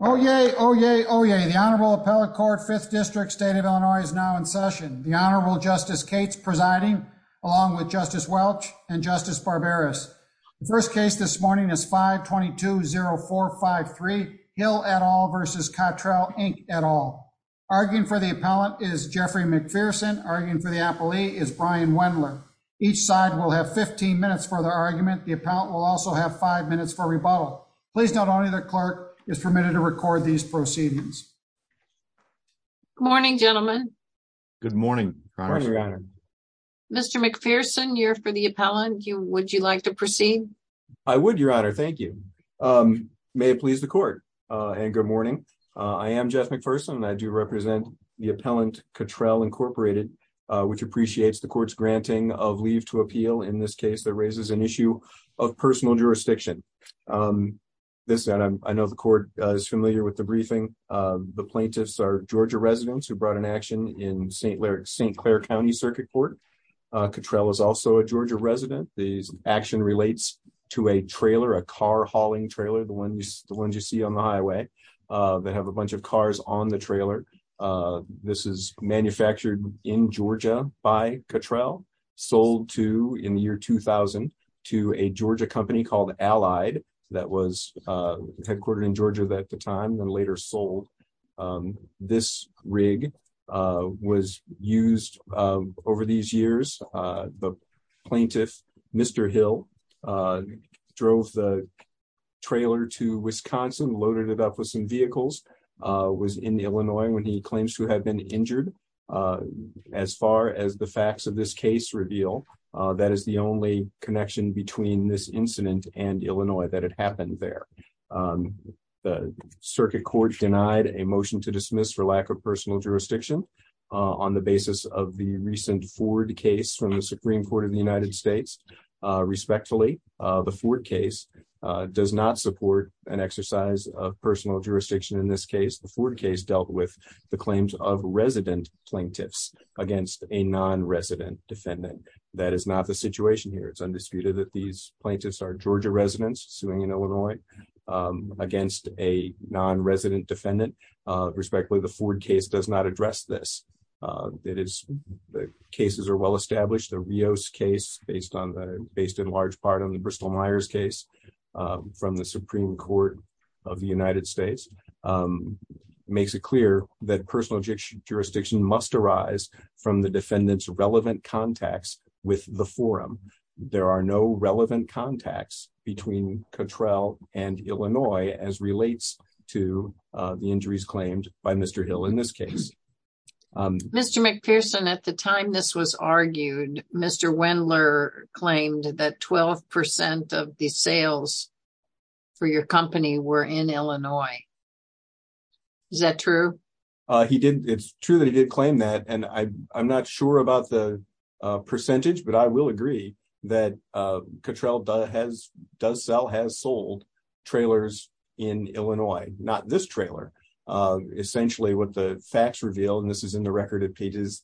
Oyez, oyez, oyez. The Honorable Appellate Court, 5th District, State of Illinois, is now in session. The Honorable Justice Cates presiding, along with Justice Welch and Justice Barbaras. The first case this morning is 5-22-0453, Hill et al. v. Cottrell, Inc. et al. Arguing for the appellant is Jeffrey McPherson. Arguing for the appellee is Brian Wendler. Each side will have 15 minutes for their argument. The appellant will also have 5 minutes for rebuttal. Please note only the clerk is permitted to record these proceedings. Good morning, gentlemen. Good morning, Your Honor. Mr. McPherson, you're for the appellant. Would you like to proceed? I would, Your Honor. Thank you. May it please the Court. And good morning. I am Jeff McPherson. I do represent the appellant, Cottrell, Inc., which appreciates the Court's granting of leave to appeal in this case that raises an issue of personal jurisdiction. I know the Court is familiar with the briefing. The plaintiffs are Georgia residents who brought an action in St. Clair County Circuit Court. Cottrell is also a Georgia resident. The action relates to a trailer, a car-hauling trailer, the ones you see on the highway that have a bunch of cars on the trailer. This is manufactured in Georgia by Cottrell, sold in the year 2000 to a Georgia company called Allied that was headquartered in Georgia at the time and later sold. This rig was used over these years. The plaintiff, Mr. Hill, drove the trailer to Wisconsin, loaded it up with some vehicles, was in Illinois when he claims to have been injured. As far as the facts of this case reveal, that is the only connection between this incident and Illinois that had happened there. The Circuit Court denied a motion to dismiss for lack of personal jurisdiction on the basis of the recent Ford case from the Supreme Court of the United States. Respectfully, the Ford case does not support an exercise of personal jurisdiction in this case. The Ford case dealt with the claims of resident plaintiffs against a non-resident defendant. That is not the situation here. It's undisputed that these plaintiffs are Georgia residents suing in Illinois against a non-resident defendant. Respectfully, the Ford case does not address this. The cases are well established. The Rios case, based in large part on the Bristol Myers case from the Supreme Court of the United States, makes it clear that personal jurisdiction must arise from the defendant's relevant contacts with the forum. There are no relevant contacts between Cottrell and Illinois as relates to the injuries claimed by Mr. Hill in this case. Mr. McPherson, at the time this was argued, Mr. Wendler claimed that 12% of the sales for your company were in Illinois. Is that true? It's true that he did claim that, and I'm not sure about the percentage, but I will agree that Cottrell does sell, has sold trailers in Illinois. Not this trailer. Essentially, what the facts reveal, and this is in the record at pages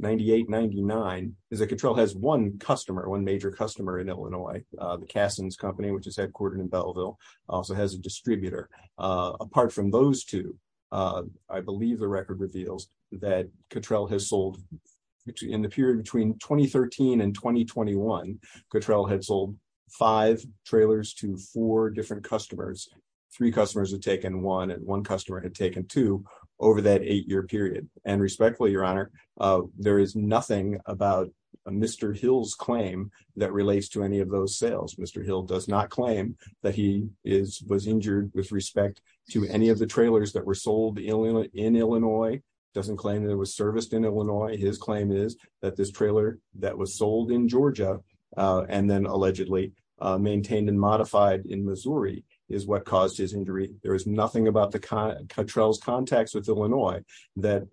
98-99, is that Cottrell has one customer, one major customer in Illinois. The Kassens Company, which is headquartered in Belleville, also has a distributor. Apart from those two, I believe the record reveals that Cottrell has sold, in the period between 2013 and 2021, Cottrell had sold five trailers to four different customers. Three customers had taken one, and one customer had taken two over that eight-year period. And respectfully, Your Honor, there is nothing about Mr. Hill's claim that relates to any of those sales. Mr. Hill does not claim that he was injured with respect to any of the trailers that were sold in Illinois, doesn't claim that it was serviced in Illinois. His claim is that this trailer that was sold in Georgia and then allegedly maintained and modified in Missouri is what caused his injury. There is nothing about Cottrell's contacts with Illinois that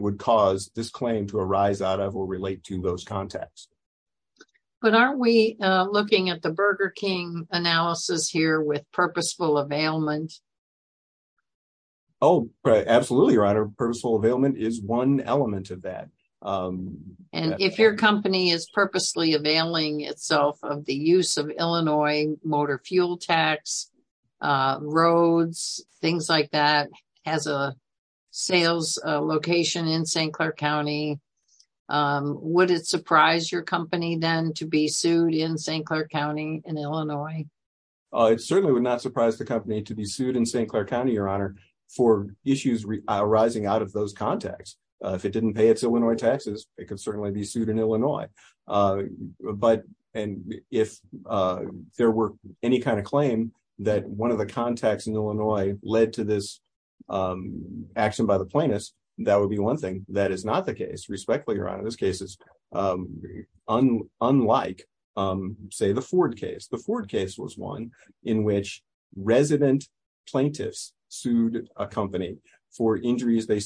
would cause this claim to arise out of or relate to those contacts. But aren't we looking at the Burger King analysis here with purposeful availment? Oh, absolutely, Your Honor. Purposeful availment is one element of that. And if your company is purposely availing itself of the use of Illinois motor fuel tax, roads, things like that, as a sales location in St. Clair County, would it surprise your company then to be sued in St. Clair County in Illinois? It certainly would not surprise the company to be sued in St. Clair County, Your Honor, for issues arising out of those contacts. If it didn't pay its Illinois taxes, it could certainly be sued in Illinois. But and if there were any kind of claim that one of the contacts in Illinois led to this action by the plaintiffs, that would be one thing. That is not the case, respectfully, Your Honor. This case is unlike, say, the Ford case. The Ford case was one in which resident plaintiffs sued a company for injuries they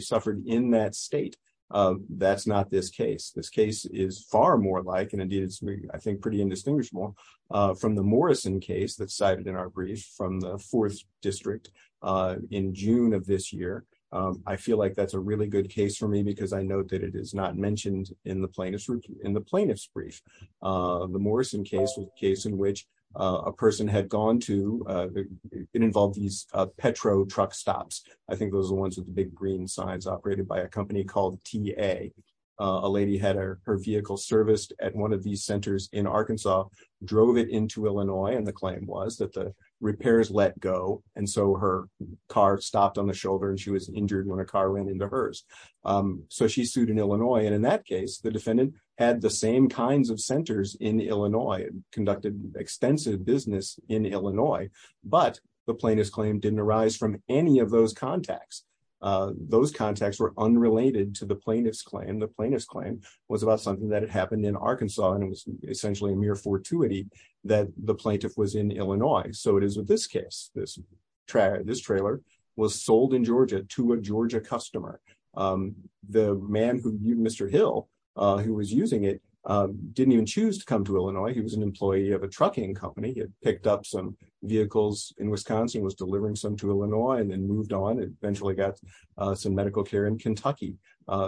suffered in that state. That's not this case. This case is far more like and indeed, I think, pretty indistinguishable from the Morrison case that's cited in our brief from the 4th District in June of this year. I feel like that's a really good case for me because I know that it is not mentioned in the plaintiff's brief. The Morrison case was a case in which a person had gone to and involved these Petro truck stops. I think those are the ones with the big green signs operated by a company called T.A. A lady had her vehicle serviced at one of these centers in Arkansas, drove it into Illinois. And the claim was that the repairs let go. And so her car stopped on the shoulder and she was injured when a car ran into hers. So she sued in Illinois. And in that case, the defendant had the same kinds of centers in Illinois and conducted extensive business in Illinois. But the plaintiff's claim didn't arise from any of those contacts. Those contacts were unrelated to the plaintiff's claim. The plaintiff's claim was about something that had happened in Arkansas. And it was essentially a mere fortuity that the plaintiff was in Illinois. So it is with this case, this trailer was sold in Georgia to a Georgia customer. The man, Mr. Hill, who was using it, didn't even choose to come to Illinois. He was an employee of a trucking company. He had picked up some vehicles in Wisconsin, was delivering some to Illinois and then moved on and eventually got some medical care in Kentucky.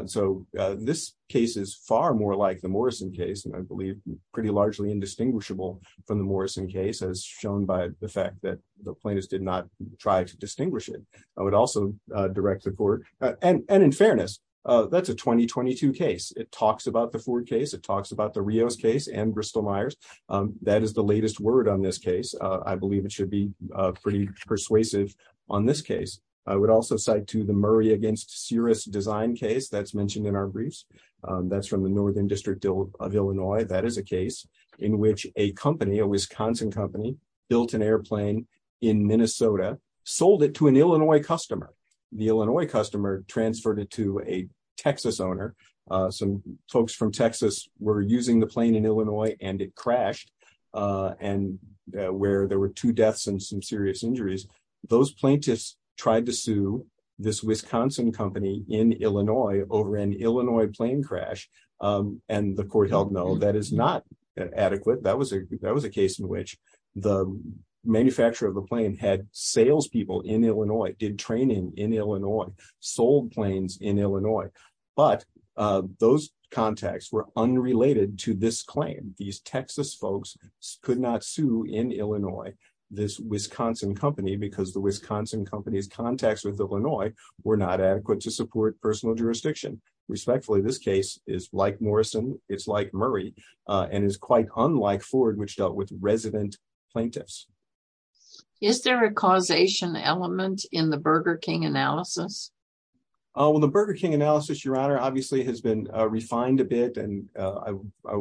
So this case is far more like the Morrison case. And I believe pretty largely indistinguishable from the Morrison case, as shown by the fact that the plaintiffs did not try to distinguish it. I would also direct the court. And in fairness, that's a 2022 case. It talks about the Ford case. It talks about the Rios case and Bristol Myers. That is the latest word on this case. I believe it should be pretty persuasive on this case. I would also cite to the Murray against serious design case that's mentioned in our briefs. That's from the northern district of Illinois. That is a case in which a company, a Wisconsin company, built an airplane in Minnesota, sold it to an Illinois customer. The Illinois customer transferred it to a Texas owner. Some folks from Texas were using the plane in Illinois and it crashed. And where there were two deaths and some serious injuries, those plaintiffs tried to sue this Wisconsin company in Illinois over an Illinois plane crash. And the court held, no, that is not adequate. That was a that was a case in which the manufacturer of a plane had salespeople in Illinois, did training in Illinois, sold planes in Illinois. But those contacts were unrelated to this claim. These Texas folks could not sue in Illinois. This Wisconsin company, because the Wisconsin company's contacts with Illinois, were not adequate to support personal jurisdiction. Respectfully, this case is like Morrison. It's like Murray and is quite unlike Ford, which dealt with resident plaintiffs. Is there a causation element in the Burger King analysis? Well, the Burger King analysis, Your Honor, obviously has been refined a bit and I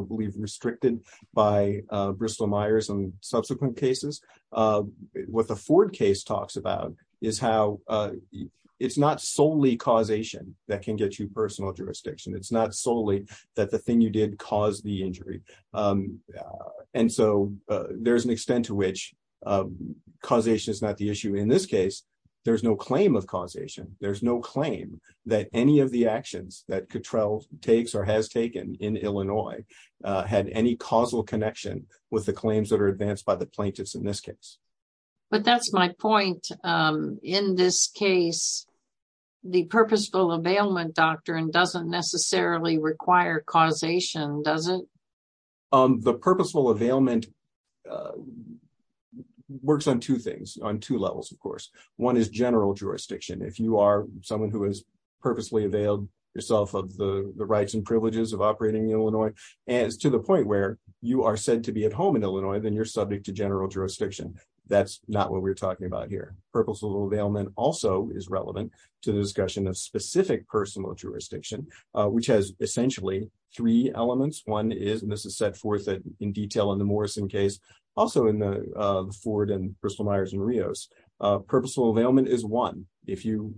believe restricted by Bristol Myers and subsequent cases. What the Ford case talks about is how it's not solely causation that can get you personal jurisdiction. It's not solely that the thing you did caused the injury. And so there's an extent to which causation is not the issue in this case. There's no claim of causation. There's no claim that any of the actions that Cottrell takes or has taken in Illinois had any causal connection with the claims that are advanced by the plaintiffs in this case. But that's my point. In this case, the purposeful availment doctrine doesn't necessarily require causation, does it? The purposeful availment works on two things, on two levels, of course. One is general jurisdiction. If you are someone who is purposely availed yourself of the rights and privileges of operating in Illinois, and it's to the point where you are said to be at home in Illinois, then you're subject to general jurisdiction. That's not what we're talking about here. Purposeful availment also is relevant to the discussion of specific personal jurisdiction, which has essentially three elements. One is, and this is set forth in detail in the Morrison case, also in the Ford and Bristol Myers and Rios. Purposeful availment is one. If you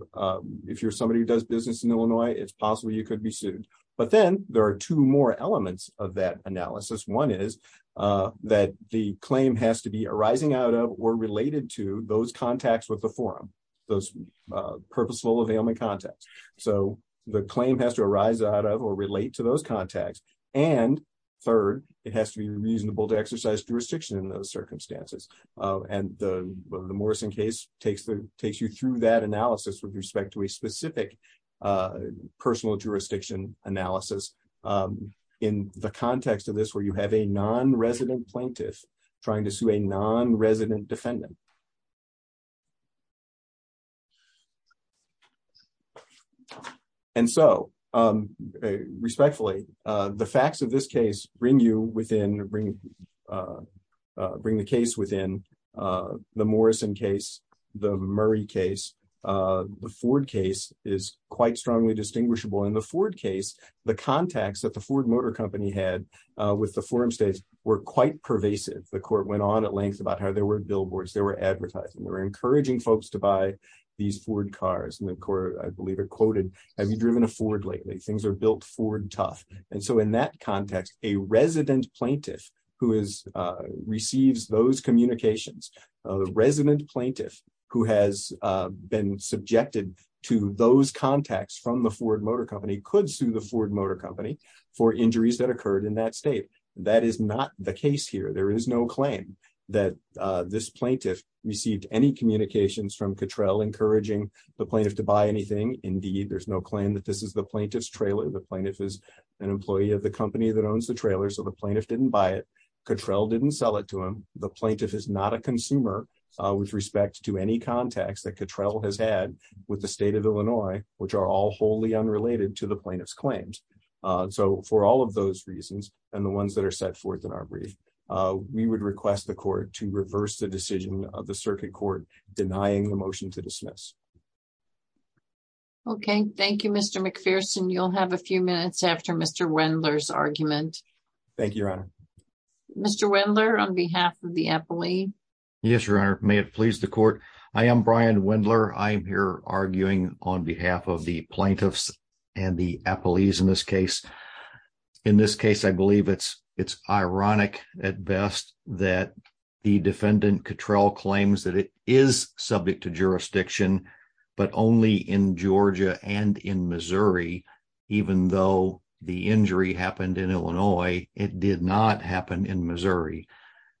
if you're somebody who does business in Illinois, it's possible you could be sued. But then there are two more elements of that analysis. One is that the claim has to be arising out of or related to those contacts with the forum, those purposeful availment contacts. So the claim has to arise out of or relate to those contacts. And third, it has to be reasonable to exercise jurisdiction in those circumstances. And the Morrison case takes the takes you through that analysis with respect to a specific personal jurisdiction analysis. In the context of this, where you have a non-resident plaintiff trying to sue a non-resident defendant. And so, respectfully, the facts of this case bring you within bring bring the case within the Morrison case, the Murray case, the Ford case is quite strongly distinguishable in the Ford case. The context that the Ford Motor Company had with the forum states were quite pervasive. The court went on at length about how they were billboards. They were advertising. They were encouraging folks to buy these Ford cars. And the court, I believe, quoted, have you driven a Ford lately? Things are built Ford tough. And so in that context, a resident plaintiff who is receives those communications. A resident plaintiff who has been subjected to those contacts from the Ford Motor Company could sue the Ford Motor Company for injuries that occurred in that state. That is not the case here. There is no claim that this plaintiff received any communications from Cottrell encouraging the plaintiff to buy anything. Indeed, there's no claim that this is the plaintiff's trailer. The plaintiff is an employee of the company that owns the trailer. So the plaintiff didn't buy it. Cottrell didn't sell it to him. The plaintiff is not a consumer with respect to any context that Cottrell has had with the state of Illinois, which are all wholly unrelated to the plaintiff's claims. So for all of those reasons and the ones that are set forth in our brief, we would request the court to reverse the decision of the circuit court denying the motion to dismiss. OK, thank you, Mr. McPherson. You'll have a few minutes after Mr. Wendler's argument. Thank you, Your Honor. Mr. Wendler, on behalf of the employee. Yes, Your Honor. May it please the court. I am Brian Wendler. I'm here arguing on behalf of the plaintiffs and the employees in this case. In this case, I believe it's it's ironic at best that the defendant Cottrell claims that it is subject to jurisdiction, but only in Georgia and in Missouri, even though the injury happened in Illinois. It did not happen in Missouri.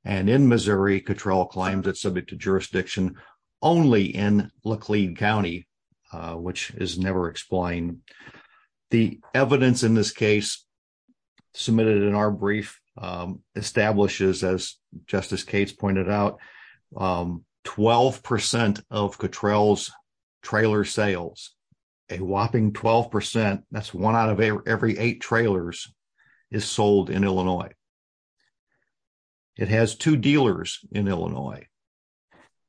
And in Missouri, Cottrell claims it's subject to jurisdiction only in Laclean County, which is never explained. The evidence in this case submitted in our brief establishes, as Justice Cates pointed out, 12 percent of Cottrell's trailer sales, a whopping 12 percent. That's one out of every eight trailers is sold in Illinois. It has two dealers in Illinois.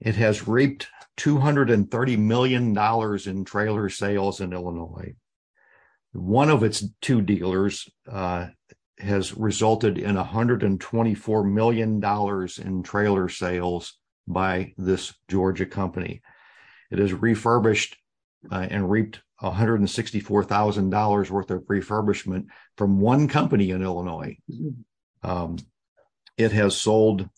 It has reaped two hundred and thirty million dollars in trailer sales in Illinois. One of its two dealers has resulted in one hundred and twenty four million dollars in trailer sales by this Georgia company. It has refurbished and reaped one hundred and sixty four thousand dollars worth of refurbishment from one company in Illinois. It has sold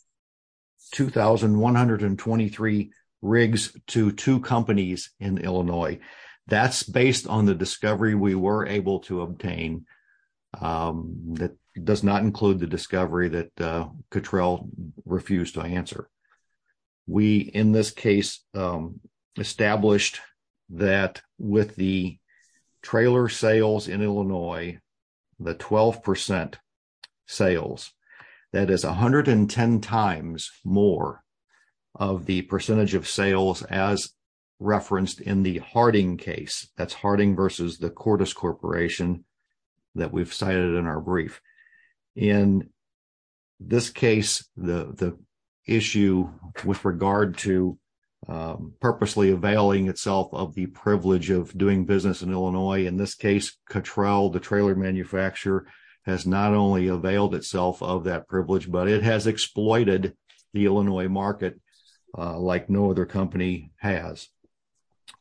two thousand one hundred and twenty three rigs to two companies in Illinois. That's based on the discovery we were able to obtain. That does not include the discovery that Cottrell refused to answer. We, in this case, established that with the trailer sales in Illinois, the 12 percent sales, that is one hundred and ten times more of the percentage of sales as referenced in the Harding case. That's Harding versus the Cordis Corporation that we've cited in our brief. In this case, the issue with regard to purposely availing itself of the privilege of doing business in Illinois, in this case, Cottrell, the trailer manufacturer, has not only availed itself of that privilege, but it has exploited the Illinois market like no other company has.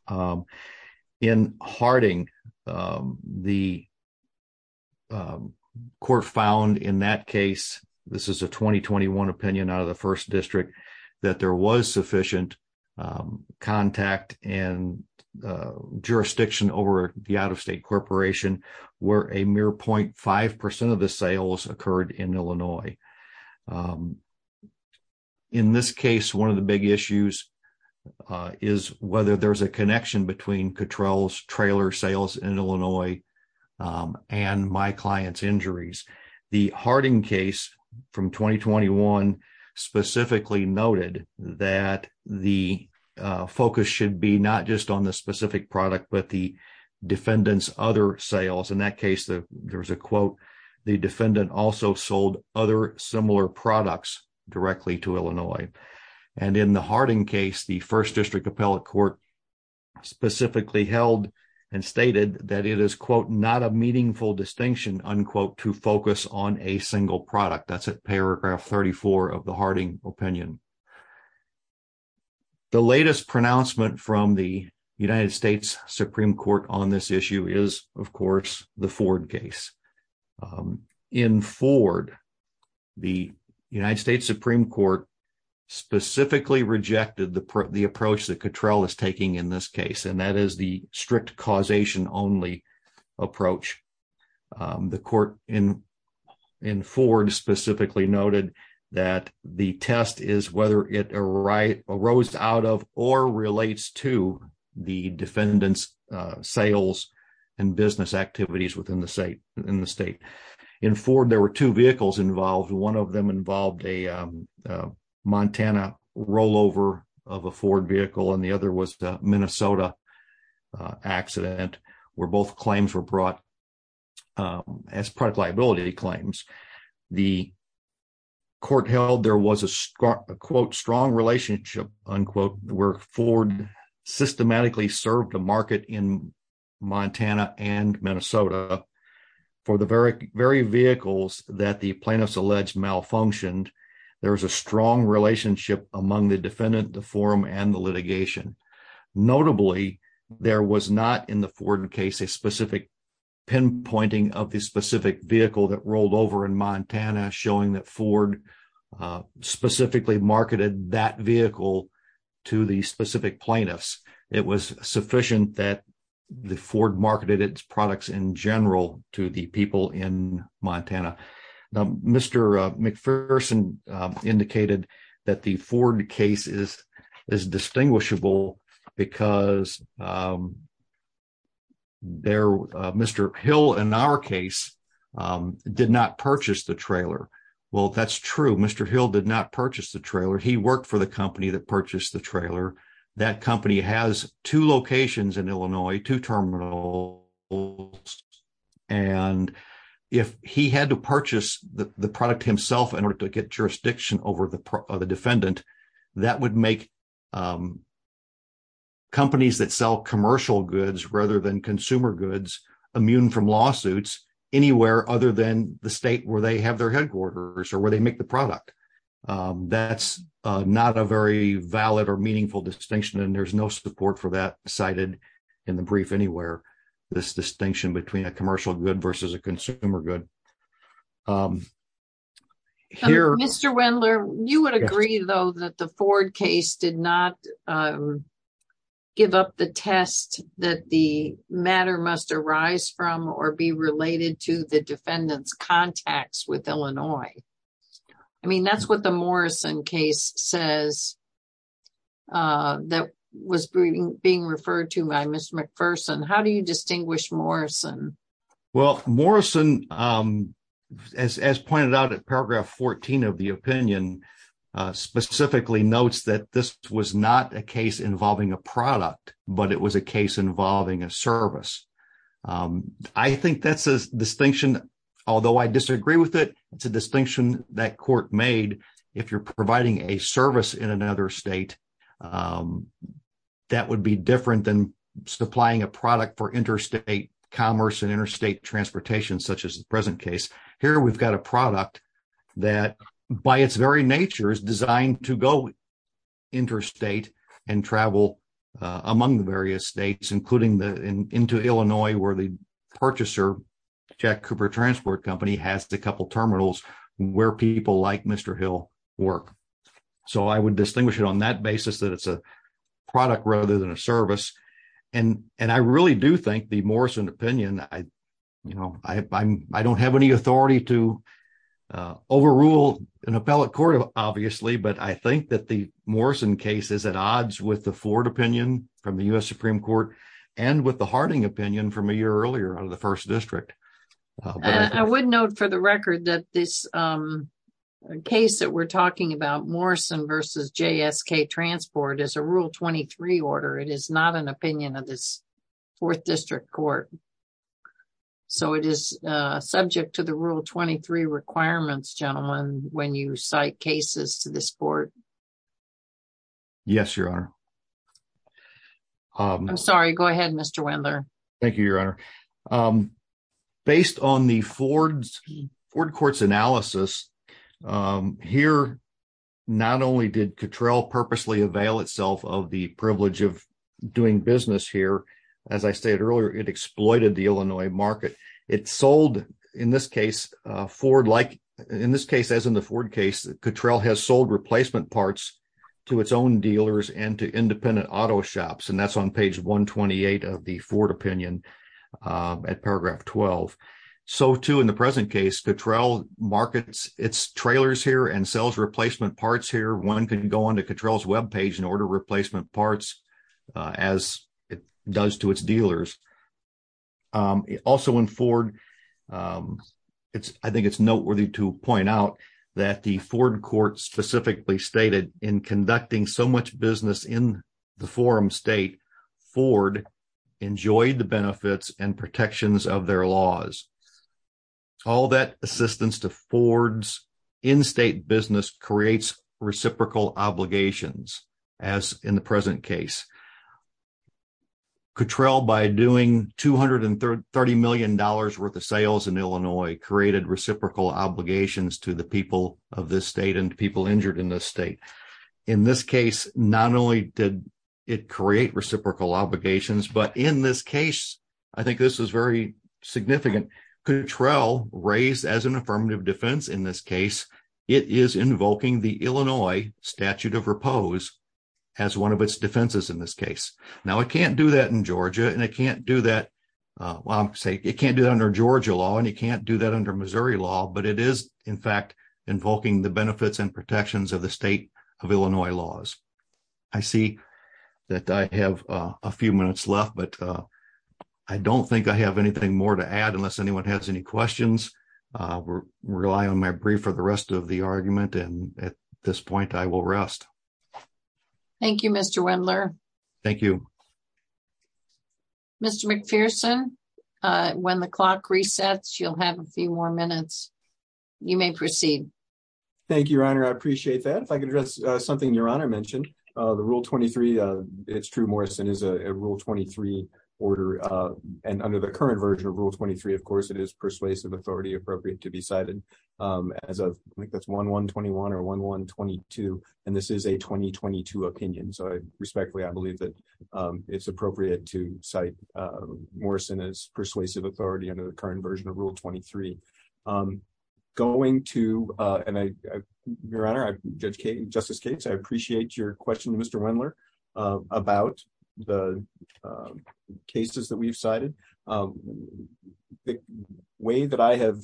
In Harding, the court found in that case, this is a twenty twenty one opinion out of the first district, that there was sufficient contact and jurisdiction over the out of state corporation where a mere point five percent of the sales occurred in Illinois. In this case, one of the big issues is whether there's a connection between Cottrell's trailer sales in Illinois and my client's injuries. The Harding case from twenty twenty one specifically noted that the focus should be not just on the specific product, but the defendant's other sales. In that case, there was a quote, the defendant also sold other similar products directly to Illinois. And in the Harding case, the first district appellate court specifically held and stated that it is, quote, not a meaningful distinction, unquote, to focus on a single product. That's paragraph thirty four of the Harding opinion. The latest pronouncement from the United States Supreme Court on this issue is, of course, the Ford case in Ford, the United States Supreme Court specifically rejected the approach that Cottrell is taking in this case, and that is the strict causation only approach. The court in Ford specifically noted that the test is whether it arose out of or relates to the defendant's sales and business activities within the state. In Ford, there were two vehicles involved. One of them involved a Montana rollover of a Ford vehicle, and the other was the Minnesota accident where both claims were brought as product liability claims. The court held there was a quote, strong relationship, unquote, where Ford systematically served a market in Montana and Minnesota for the very, very vehicles that the plaintiffs alleged malfunctioned. There was a strong relationship among the defendant, the forum and the litigation. Notably, there was not in the Ford case a specific pinpointing of the specific vehicle that rolled over in Montana, showing that Ford specifically marketed that vehicle to the specific plaintiffs. It was sufficient that the Ford marketed its products in general to the people in Montana. Mr. McPherson indicated that the Ford case is distinguishable because Mr. Hill, in our case, did not purchase the trailer. Well, that's true. Mr. Hill did not purchase the trailer. He worked for the company that purchased the trailer. That company has two locations in Illinois, two terminals. And if he had to purchase the product himself in order to get jurisdiction over the defendant, that would make companies that sell commercial goods rather than consumer goods immune from lawsuits anywhere other than the state where they have their headquarters or where they make the product. That's not a very valid or meaningful distinction, and there's no support for that cited in the brief anywhere. This distinction between a commercial good versus a consumer good. Mr. Wendler, you would agree, though, that the Ford case did not give up the test that the matter must arise from or be related to the defendant's contacts with Illinois. I mean, that's what the Morrison case says that was being referred to by Mr. McPherson. How do you distinguish Morrison? Well, Morrison, as pointed out at paragraph 14 of the opinion, specifically notes that this was not a case involving a product, but it was a case involving a service. I think that's a distinction, although I disagree with it. It's a distinction that court made. If you're providing a service in another state, that would be different than supplying a product for interstate commerce and interstate transportation, such as the present case. Here we've got a product that, by its very nature, is designed to go interstate and travel among the various states, including into Illinois, where the purchaser, Jack Cooper Transport Company, has a couple terminals where people like Mr. Hill work. So I would distinguish it on that basis that it's a product rather than a service. And I really do think the Morrison opinion, I don't have any authority to overrule an appellate court, obviously, but I think that the Morrison case is at odds with the Ford opinion from the U.S. Supreme Court and with the Harding opinion from a year earlier out of the First District. I would note for the record that this case that we're talking about, Morrison versus J.S.K. Transport, is a Rule 23 order. It is not an opinion of this Fourth District Court. So it is subject to the Rule 23 requirements, gentlemen, when you cite cases to this court. Yes, Your Honor. I'm sorry. Go ahead, Mr. Wendler. Thank you, Your Honor. Based on the Ford Court's analysis, here, not only did Cottrell purposely avail itself of the privilege of doing business here, as I stated earlier, it exploited the Illinois market. It sold, in this case, Ford like, in this case, as in the Ford case, Cottrell has sold replacement parts to its own dealers and to independent auto shops. And that's on page 128 of the Ford opinion at paragraph 12. So, too, in the present case, Cottrell markets its trailers here and sells replacement parts here. One can go on to Cottrell's web page and order replacement parts as it does to its dealers. Also, in Ford, I think it's noteworthy to point out that the Ford Court specifically stated, in conducting so much business in the forum state, Ford enjoyed the benefits and protections of their laws. All that assistance to Ford's in-state business creates reciprocal obligations, as in the present case. Cottrell, by doing $230 million worth of sales in Illinois, created reciprocal obligations to the people of this state and to people injured in this state. In this case, not only did it create reciprocal obligations, but in this case, I think this is very significant, Cottrell raised as an affirmative defense in this case, it is invoking the Illinois statute of repose as one of its defenses in this case. Now, it can't do that in Georgia, and it can't do that under Georgia law, and it can't do that under Missouri law, but it is, in fact, invoking the benefits and protections of the state of Illinois laws. I see that I have a few minutes left, but I don't think I have anything more to add unless anyone has any questions. I rely on my brief for the rest of the argument, and at this point, I will rest. Thank you, Mr. Wendler. Thank you. Mr. McPherson, when the clock resets, you'll have a few more minutes. You may proceed. Thank you, Your Honor, I appreciate that. If I could address something Your Honor mentioned, the Rule 23, it's true, Morrison, is a Rule 23 order, and under the current version of Rule 23, of course, it is persuasive authority appropriate to be cited. I think that's 1-1-21 or 1-1-22, and this is a 2022 opinion, so respectfully, I believe that it's appropriate to cite Morrison as persuasive authority under the current version of Rule 23. Your Honor, Justice Cates, I appreciate your question to Mr. Wendler about the cases that we've cited. The way that I have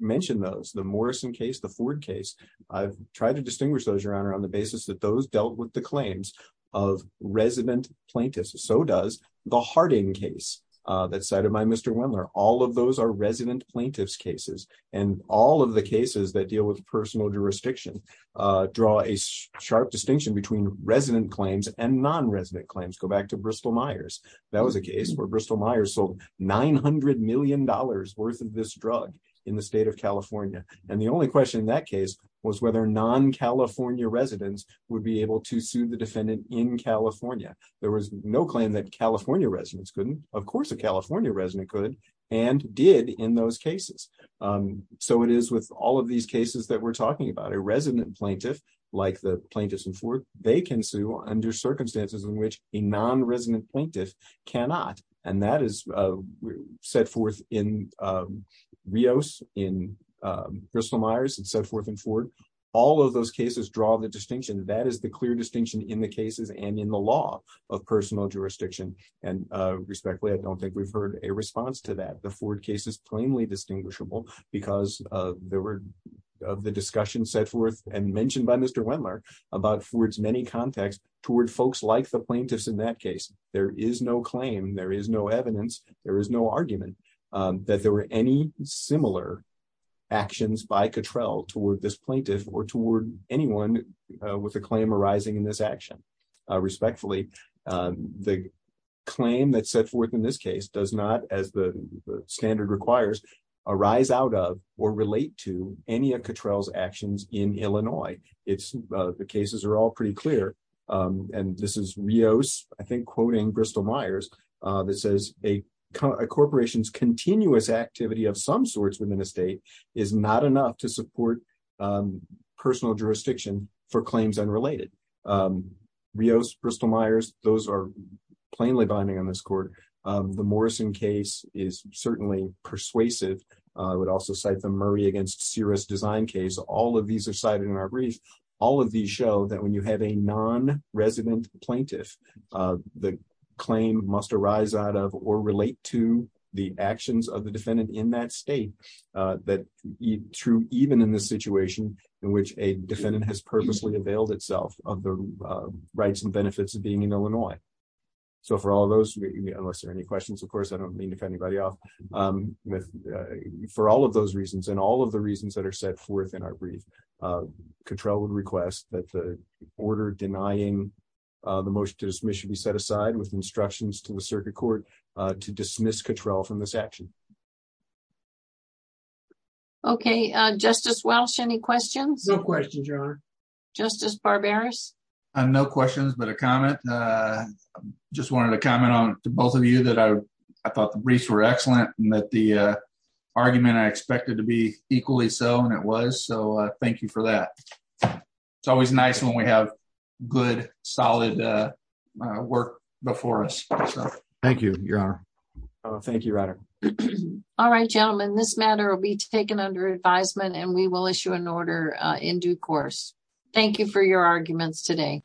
mentioned those, the Morrison case, the Ford case, I've tried to distinguish those, Your Honor, on the basis that those dealt with the claims of resident plaintiffs. So does the Harding case that's cited by Mr. Wendler. All of those are resident plaintiffs' cases, and all of the cases that deal with personal jurisdiction draw a sharp distinction between resident claims and non-resident claims. Go back to Bristol-Myers. That was a case where Bristol-Myers sold $900 million worth of this drug in the state of California, and the only question in that case was whether non-California residents would be able to sue the defendant in California. There was no claim that California residents couldn't. Of course a California resident could and did in those cases. So it is with all of these cases that we're talking about, a resident plaintiff, like the plaintiffs in Ford, they can sue under circumstances in which a non-resident plaintiff cannot, and that is set forth in Rios, in Bristol-Myers, and set forth in Ford. All of those cases draw the distinction. That is the clear distinction in the cases and in the law of personal jurisdiction, and respectfully, I don't think we've heard a response to that. The Ford case is plainly distinguishable because of the discussion set forth and mentioned by Mr. Wendler about Ford's many contacts toward folks like the plaintiffs in that case. There is no claim, there is no evidence, there is no argument that there were any similar actions by Cottrell toward this plaintiff or toward anyone with a claim arising in this action. Respectfully, the claim that's set forth in this case does not, as the standard requires, arise out of or relate to any of Cottrell's actions in Illinois. The cases are all pretty clear, and this is Rios, I think, quoting Bristol-Myers, that says a corporation's continuous activity of some sorts within a state is not enough to support personal jurisdiction for claims unrelated. Rios, Bristol-Myers, those are plainly binding on this court. The Morrison case is certainly persuasive. I would also cite the Murray v. Searest design case. All of these are cited in our brief. All of these show that when you have a non-resident plaintiff, the claim must arise out of or relate to the actions of the defendant in that state, even in the situation in which a defendant has purposely availed itself of the rights and benefits of being in Illinois. So for all of those, unless there are any questions, of course, I don't mean to cut anybody off. For all of those reasons and all of the reasons that are set forth in our brief, Cottrell would request that the order denying the motion to dismiss should be set aside with instructions to the circuit court to dismiss Cottrell from this action. Okay, Justice Welch, any questions? No questions, Your Honor. Justice Barberis? No questions but a comment. I just wanted to comment to both of you that I thought the briefs were excellent and that the argument I expected to be equally so, and it was, so thank you for that. It's always nice when we have good, solid work before us. Thank you, Your Honor. Thank you, Ryder. All right, gentlemen, this matter will be taken under advisement and we will issue an order in due course. Thank you for your arguments today.